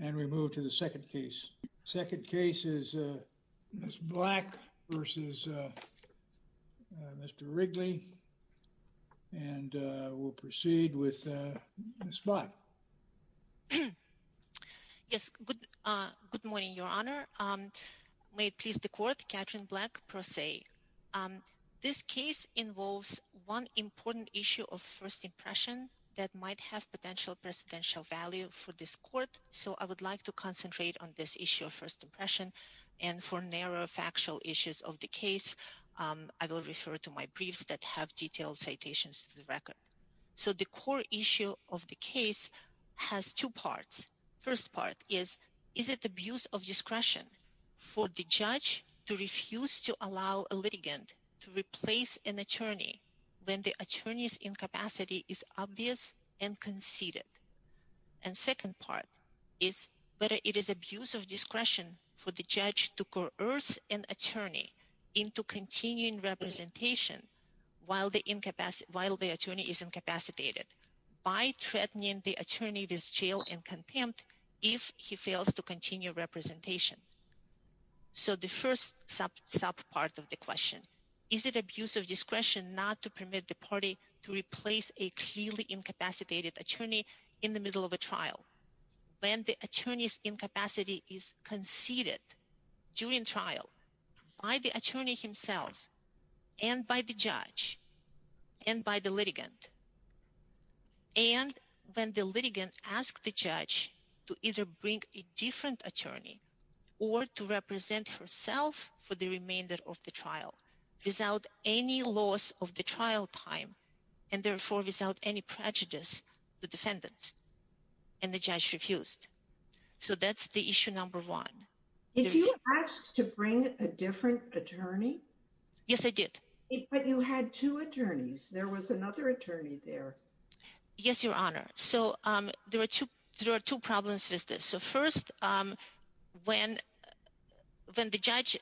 and we move to the second case. Second case is Ms. Black versus Mr. Wrigley and we'll proceed with Ms. Black. Yes, good morning, Your Honor. May it please the Court, Katherine Black, pro se. This case involves one important issue of first impression that might have potential presidential value for this Court, so I would like to concentrate on this issue of first impression and for narrow factual issues of the case, I will refer to my briefs that have detailed citations to the record. So the core issue of the case has two parts. First part is, is it abuse of discretion for the judge to refuse to allow a litigant to be seated? And second part is, whether it is abuse of discretion for the judge to coerce an attorney into continuing representation while the attorney is incapacitated by threatening the attorney with jail and contempt if he fails to continue representation. So the first sub part of the question, is it abuse of discretion not to permit the party to replace a clearly incapacitated attorney in the middle of a trial when the attorney's incapacity is conceded during trial by the attorney himself and by the judge and by the litigant? And when the litigant asks the judge to either bring a different attorney or to represent herself for the remainder of the trial without any loss of the trial time and therefore without any prejudice to defendants? And the judge refused. So that's the issue number one. If you asked to bring a different attorney? Yes, I did. But you had two attorneys. There was another attorney there. Yes, Your Honor. So there are two problems with this. So first, when the judge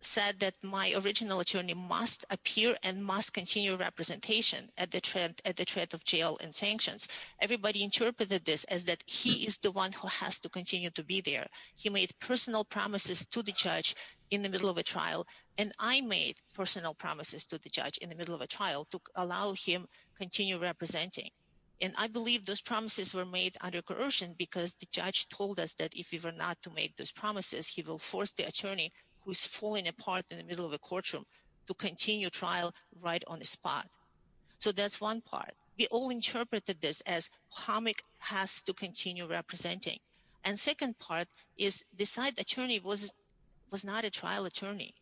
said that my original attorney must appear and must continue representation at the threat of jail and sanctions, everybody interpreted this as that he is the one who has to continue to be there. He made personal promises to the judge in the middle of a trial. And I made personal promises to the judge in the middle of a trial to allow him to continue representing. And I believe those promises were made under coercion because the judge told us that if we were not to make those promises, he will force the attorney who's in the middle of a courtroom to continue trial right on the spot. So that's one part. We all interpreted this as Hamik has to continue representing. And second part is the side attorney was not a trial attorney.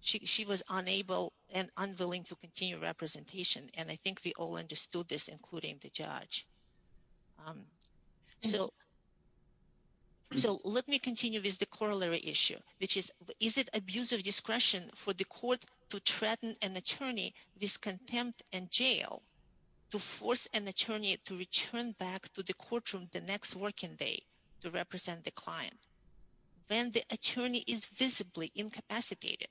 She was unable and unwilling to continue representation. And I think we all understood this, including the judge. So let me continue with the corollary issue, which is, is it abuse of discretion for the court to threaten an attorney with contempt and jail to force an attorney to return back to the courtroom the next working day to represent the client when the attorney is visibly incapacitated?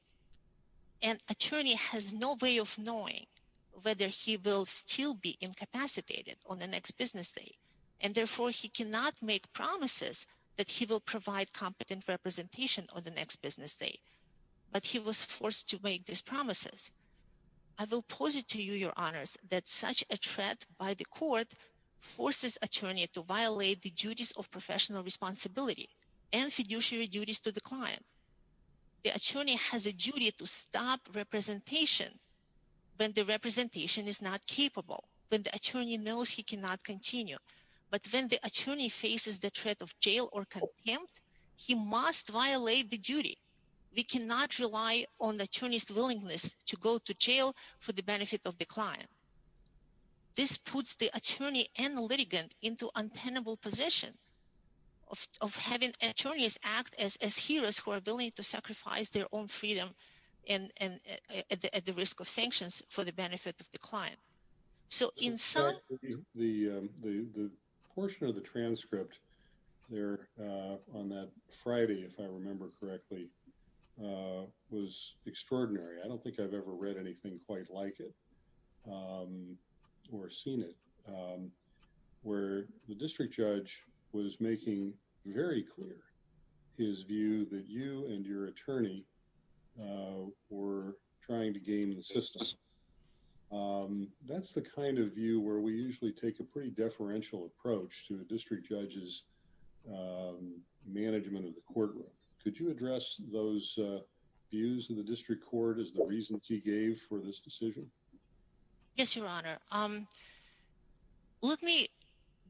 An attorney has no way of knowing whether he will still be incapacitated on the next business day, and on the next business day. But he was forced to make these promises. I will posit to you your honors that such a threat by the court forces attorney to violate the duties of professional responsibility and fiduciary duties to the client. The attorney has a duty to stop representation when the representation is not capable, when the attorney knows he cannot continue. But when the attorney faces the threat of jail or contempt, he must violate the duty. We cannot rely on the attorneys willingness to go to jail for the benefit of the client. This puts the attorney and the litigant into untenable position of having attorneys act as heroes who are willing to sacrifice their own freedom and at the risk of sanctions for the benefit of the client. So in the portion of the transcript there on that Friday, if I remember correctly, was extraordinary. I don't think I've ever read anything quite like it, or seen it, where the district judge was making very clear his view that you and your attorney were trying to game the system. That's the kind of view where we usually take a pretty deferential approach to a district judge's management of the courtroom. Could you address those views of the district court as the reasons he gave for this decision? Yes, your honor. Let me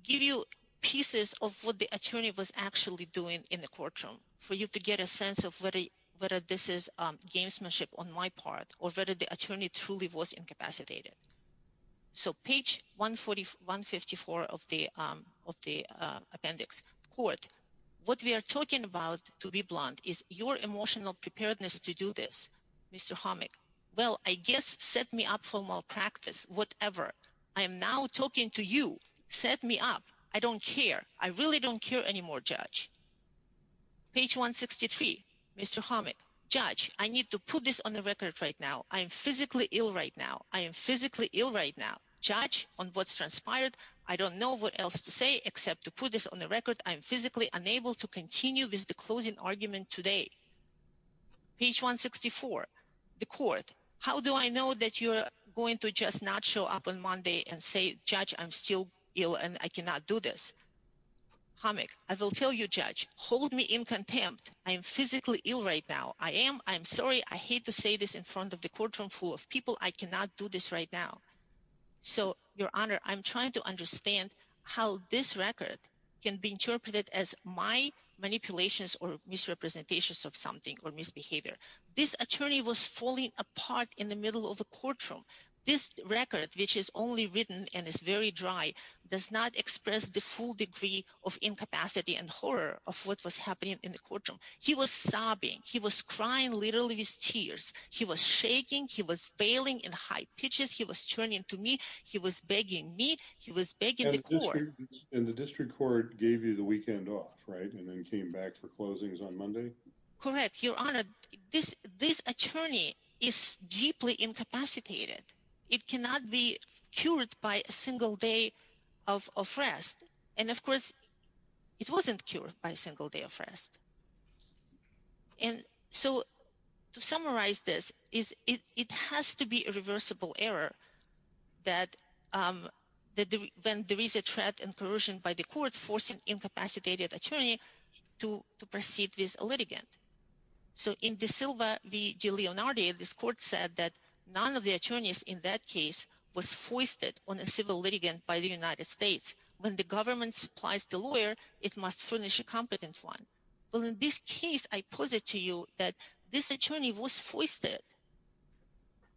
give you pieces of what the attorney was actually doing in the courtroom for you to get a sense of whether this is gamesmanship on my part or whether the attorney truly was incapacitated. So page 144 of the appendix. Court, what we are talking about, to be blunt, is your emotional preparedness to do this. Mr. Homick, well I guess set me up for malpractice, whatever. I am now talking to you. Set me up. I don't care. I really don't care anymore, judge. Page 163. Mr. Homick, judge, I need to put this on the record right now. I am physically ill right now. I am physically ill right now. Judge, on what's transpired, I don't know what else to say except to put this on the record. I am physically unable to continue with the closing argument today. Page 164. The court, how do I know that you're going to just show up on Monday and say, judge, I'm still ill and I cannot do this? Homick, I will tell you, judge, hold me in contempt. I am physically ill right now. I am. I'm sorry. I hate to say this in front of the courtroom full of people. I cannot do this right now. So, your honor, I'm trying to understand how this record can be interpreted as my manipulations or misrepresentations of something or misbehavior. This attorney was falling apart in the middle of a courtroom. This record, which is only written and is very dry, does not express the full degree of incapacity and horror of what was happening in the courtroom. He was sobbing. He was crying literally with tears. He was shaking. He was bailing in high pitches. He was turning to me. He was begging me. He was begging the court. And the district court gave you the weekend off, right, and then came back for closings on Monday? Correct. Your honor, this attorney is deeply incapacitated. It cannot be cured by a single day of rest. And of course, it wasn't cured by a single day of rest. And so, to summarize this, it has to be a reversible error that when there is a threat and coercion by the court forcing incapacitated attorney to proceed with a litigant. So, in De Silva v. De Leonardi, this court said that none of the attorneys in that case was foisted on a civil litigant by the United States. When the government supplies the lawyer, it must furnish a competent one. Well, in this case, I posit to you that this attorney was foisted.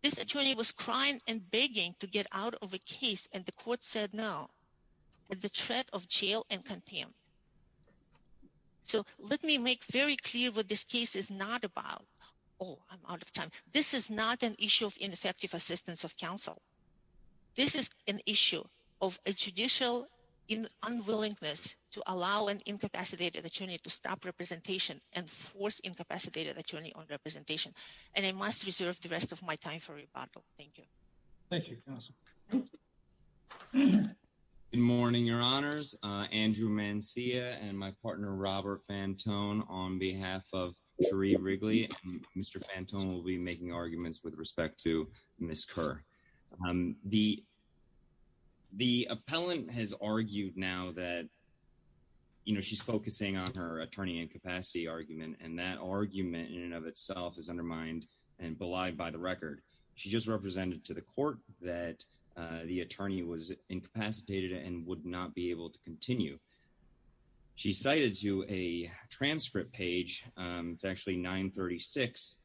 This attorney was crying and begging to get out of a case, and the court said no, at the threat of jail and contempt. So, let me make very clear what this case is not about. Oh, I'm out of time. This is not an issue of ineffective assistance of counsel. This is an issue of a judicial unwillingness to allow an incapacitated attorney to stop representation and force incapacitated attorney on trial. Thank you. Thank you, counsel. Good morning, your honors. Andrew Mancia and my partner Robert Fantone on behalf of Cherie Wrigley. Mr. Fantone will be making arguments with respect to Ms. Kerr. The appellant has argued now that, you know, she's focusing on her attorney incapacity argument, and that argument in and of itself is undermined and belied by the record. She just represented to the court that the attorney was incapacitated and would not be able to continue. She cited to a transcript page, it's actually 936,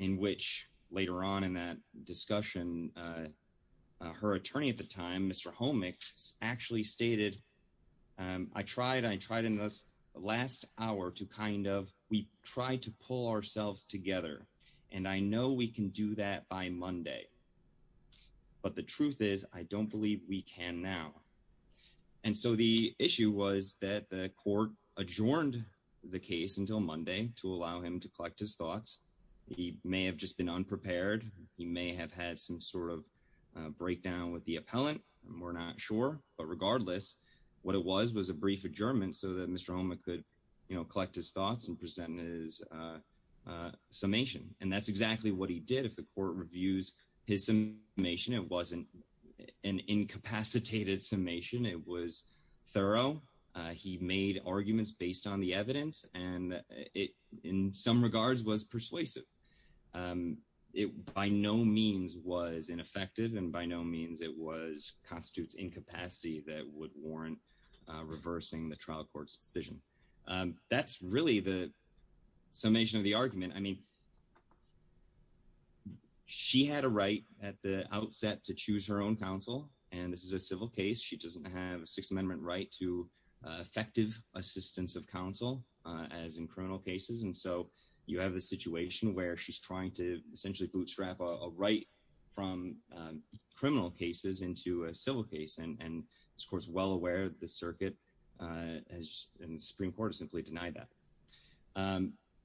in which later on in that discussion, her attorney at the time, Mr. Homick, actually stated, I tried, I tried in this last hour to kind of, we tried to pull ourselves together. And I know we can do that by Monday. But the truth is, I don't believe we can now. And so the issue was that the court adjourned the case until Monday to allow him to collect his thoughts. He may have just been unprepared. He may have had some sort of breakdown with the appellant. We're not sure. But regardless, what it was, was a brief adjournment so that Mr. Homick could, you know, collect his thoughts and present his summation. And that's exactly what he did. If the court reviews his summation, it wasn't an incapacitated summation. It was thorough. He made arguments based on the evidence. And it in some regards was persuasive. It by no means was ineffective. And by no means it was constitutes incapacity that would warrant reversing the trial court's decision. That's really the summation of the argument. I mean, she had a right at the outset to choose her own counsel. And this is a civil case, she doesn't have a Sixth Amendment right to effective assistance of counsel, as in criminal cases. And so you have a situation where she's from criminal cases into a civil case. And it's, of course, well aware the circuit has in the Supreme Court simply denied that.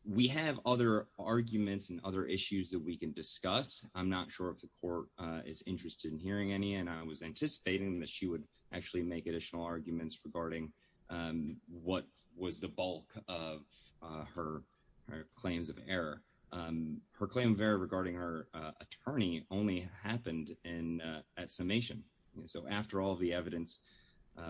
We have other arguments and other issues that we can discuss. I'm not sure if the court is interested in hearing any and I was anticipating that she would actually make additional arguments regarding what was the bulk of her claims of error. Her claim of error regarding her attorney only happened in at summation. So after all the evidence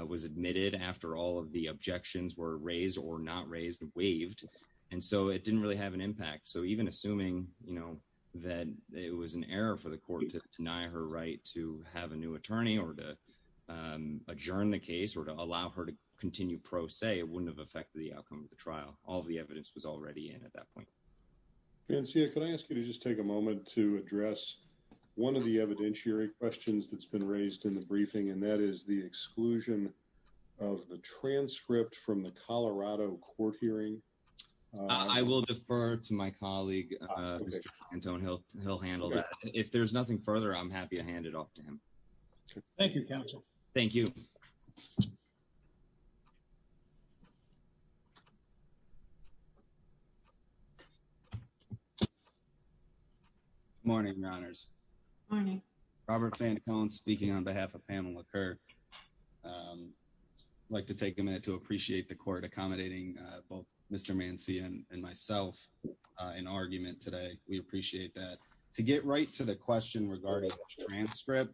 was admitted, after all of the objections were raised or not raised and waived, and so it didn't really have an impact. So even assuming, you know, that it was an error for the court to deny her right to have a new attorney or to adjourn the case or to allow her to continue pro se, it wouldn't have affected the outcome of the trial. All the evidence was already in at that point. Vincia, can I ask you to just take a moment to address one of the evidentiary questions that's been raised in the briefing, and that is the exclusion of the transcript from the Colorado court hearing. I will defer to my colleague, Mr. Cantone. He'll handle that. If there's nothing further, I'm happy to hand it off to him. Thank you, counsel. Thank you. Good morning, Your Honors. Good morning. Robert Fantacone speaking on behalf of Pamela Kerr. I'd like to take a minute to appreciate the court accommodating both Mr. Mancy and myself in argument today. We appreciate that. To get right to the question regarding the transcript,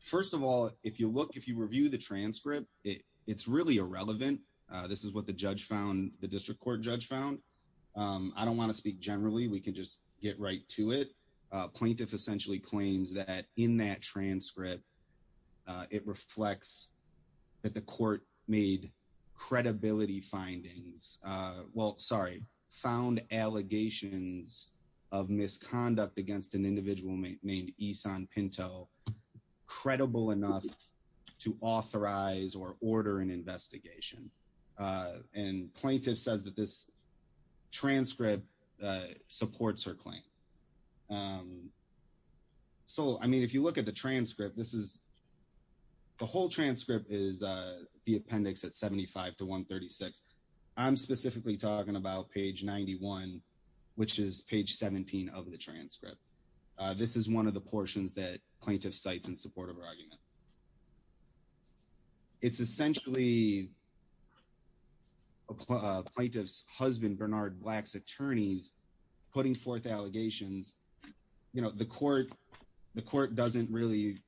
first of all, if you look, if you review the transcript, it's really irrelevant. This is the district court judge found. I don't want to speak generally. We can just get right to it. Plaintiff essentially claims that in that transcript, it reflects that the court made credibility findings. Well, sorry, found allegations of misconduct against an individual named Esan Pinto, credible enough to authorize or order an investigation. Plaintiff says that this transcript supports her claim. If you look at the transcript, the whole transcript is the appendix at 75 to 136. I'm specifically talking about page 91, which is page 17 of the transcript. This is one of the portions that plaintiff cites in support of her argument. It's essentially plaintiff's husband, Bernard Black's attorneys putting forth allegations. You know, the court doesn't really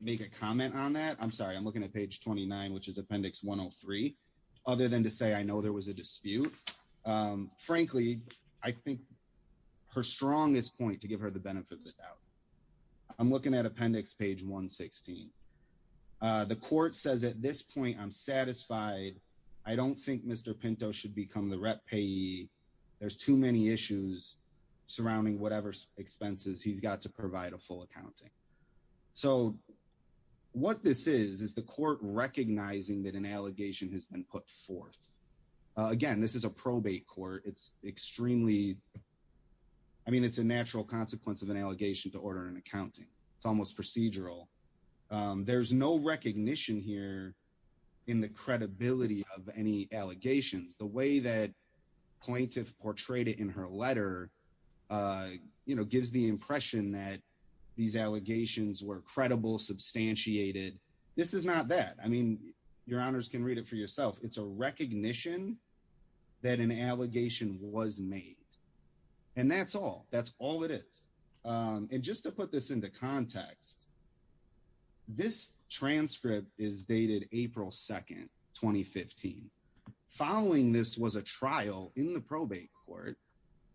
make a comment on that. I'm sorry. I'm looking at page 29, which is appendix 103. Other than to say, I know there was a dispute. Frankly, I think her strongest point to give her the benefit of the doubt. I'm looking at appendix page 116. The court says at this point, I'm satisfied. I don't think Mr. Pinto should become the rep payee. There's too many issues surrounding whatever expenses he's got to provide a full accounting. So what this is, is the court recognizing that an allegation has been put forth. Again, this is a probate court. It's extremely, I mean, it's a natural consequence of an allegation to order an accounting. It's almost procedural. There's no recognition here in the credibility of any allegations. The way that plaintiff portrayed it in her letter, you know, gives the impression that these allegations were credible, substantiated. This is not that. I mean, your honors can read it for yourself. It's a recognition that an allegation was made. And that's all, that's all it is. And just to put this into context, this transcript is dated April 2nd, 2015. Following this was a trial in the probate court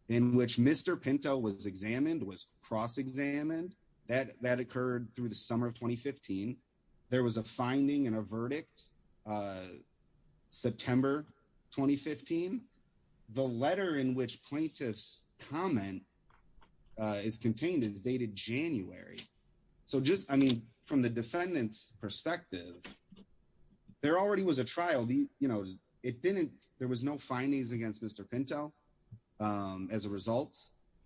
in which Mr. Pinto was examined, was cross-examined. That occurred through the summer of 2015. There was a finding and a verdict September 2015. The letter in which plaintiff's comment is contained is dated January. So just, I mean, from the defendant's perspective, there already was a trial. You know, it didn't, there was no findings against Mr. Pinto. As a result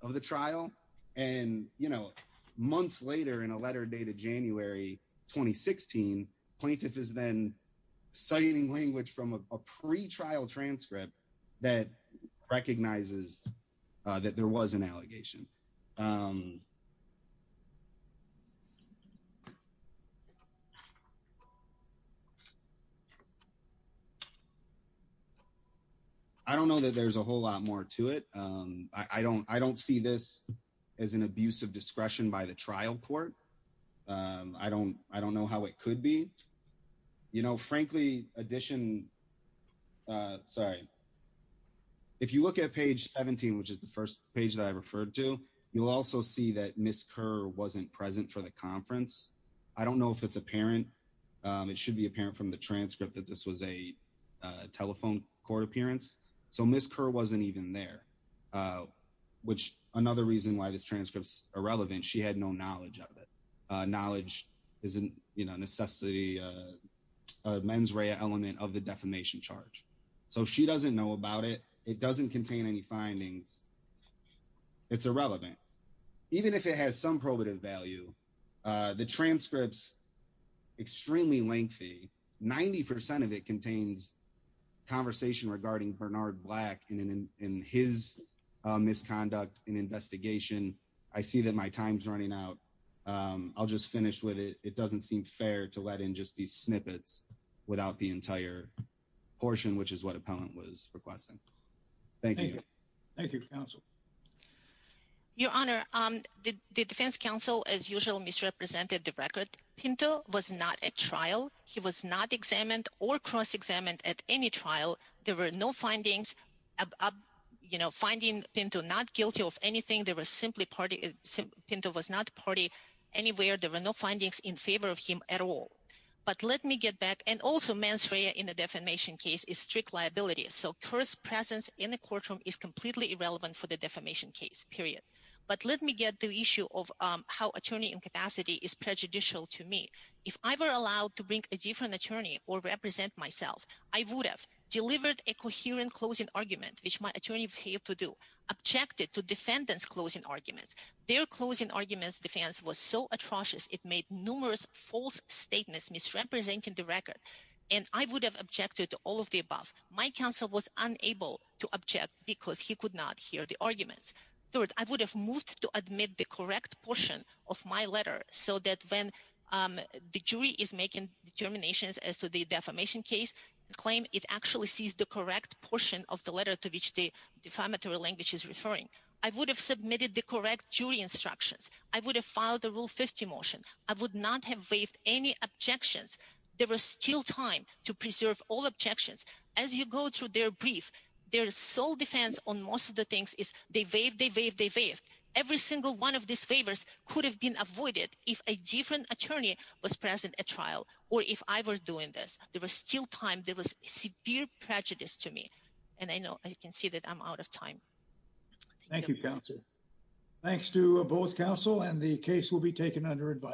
of the trial. And, you know, months later in a letter dated January 2016, plaintiff is then citing language from a pre-trial transcript that recognizes that there was an allegation. Um, I don't know that there's a whole lot more to it. Um, I don't, I don't see this as an abuse of discretion by the trial court. Um, I don't, I don't know how it could be, you know, frankly, addition, uh, sorry. If you look at page 17, which is the first page that I referred to, you'll also see that Ms. Kerr wasn't present for the conference. I don't know if it's apparent. Um, it should be apparent from the transcript that this was a, uh, telephone court appearance. So Ms. Kerr wasn't even there, uh, which another reason why this transcript's irrelevant. She had no knowledge of it. Uh, knowledge isn't, you know, necessity, uh, uh, mens rea element of the defamation charge. So she doesn't know about it. It doesn't contain any findings. It's irrelevant. Even if it has some probative value, uh, the transcripts extremely lengthy, 90% of it contains conversation regarding Bernard Black and in, in his, uh, misconduct and investigation. I see that my time's running out. Um, I'll just finish with it. It doesn't seem fair to let in just these snippets without the entire portion, which is what a thank you counsel, your honor. Um, the defense council, as usual, misrepresented the record. Pinto was not a trial. He was not examined or cross-examined at any trial. There were no findings, you know, finding Pinto not guilty of anything. There was simply party Pinto was not party anywhere. There were no findings in favor of him at all, but let me get back. And also in the defamation case is strict liability. So curse presence in the courtroom is completely irrelevant for the defamation case period. But let me get the issue of, um, how attorney incapacity is prejudicial to me. If I were allowed to bring a different attorney or represent myself, I would have delivered a coherent closing argument, which my attorney failed to do objected to defendants closing arguments. Their closing arguments defense was so atrocious. It made numerous false statements, misrepresenting the record. And I would have objected to all of the above. My counsel was unable to object because he could not hear the arguments. Third, I would have moved to admit the correct portion of my letter so that when, um, the jury is making determinations as to the defamation case claim, it actually sees the correct portion of the letter to which the defamatory language is referring. I would have submitted the correct jury instructions. I would have filed the rule 50 motion. I would not have waived any objections. There was still time to preserve all objections. As you go through their brief, their sole defense on most of the things is they waive, they waive, they waive. Every single one of these favors could have been avoided if a different attorney was present at trial, or if I were doing this, there was still time. There was severe prejudice to me. And I know I can see that I'm out of time. Thank you, counsel. Thanks to both counsel and the case will be taken under advisory.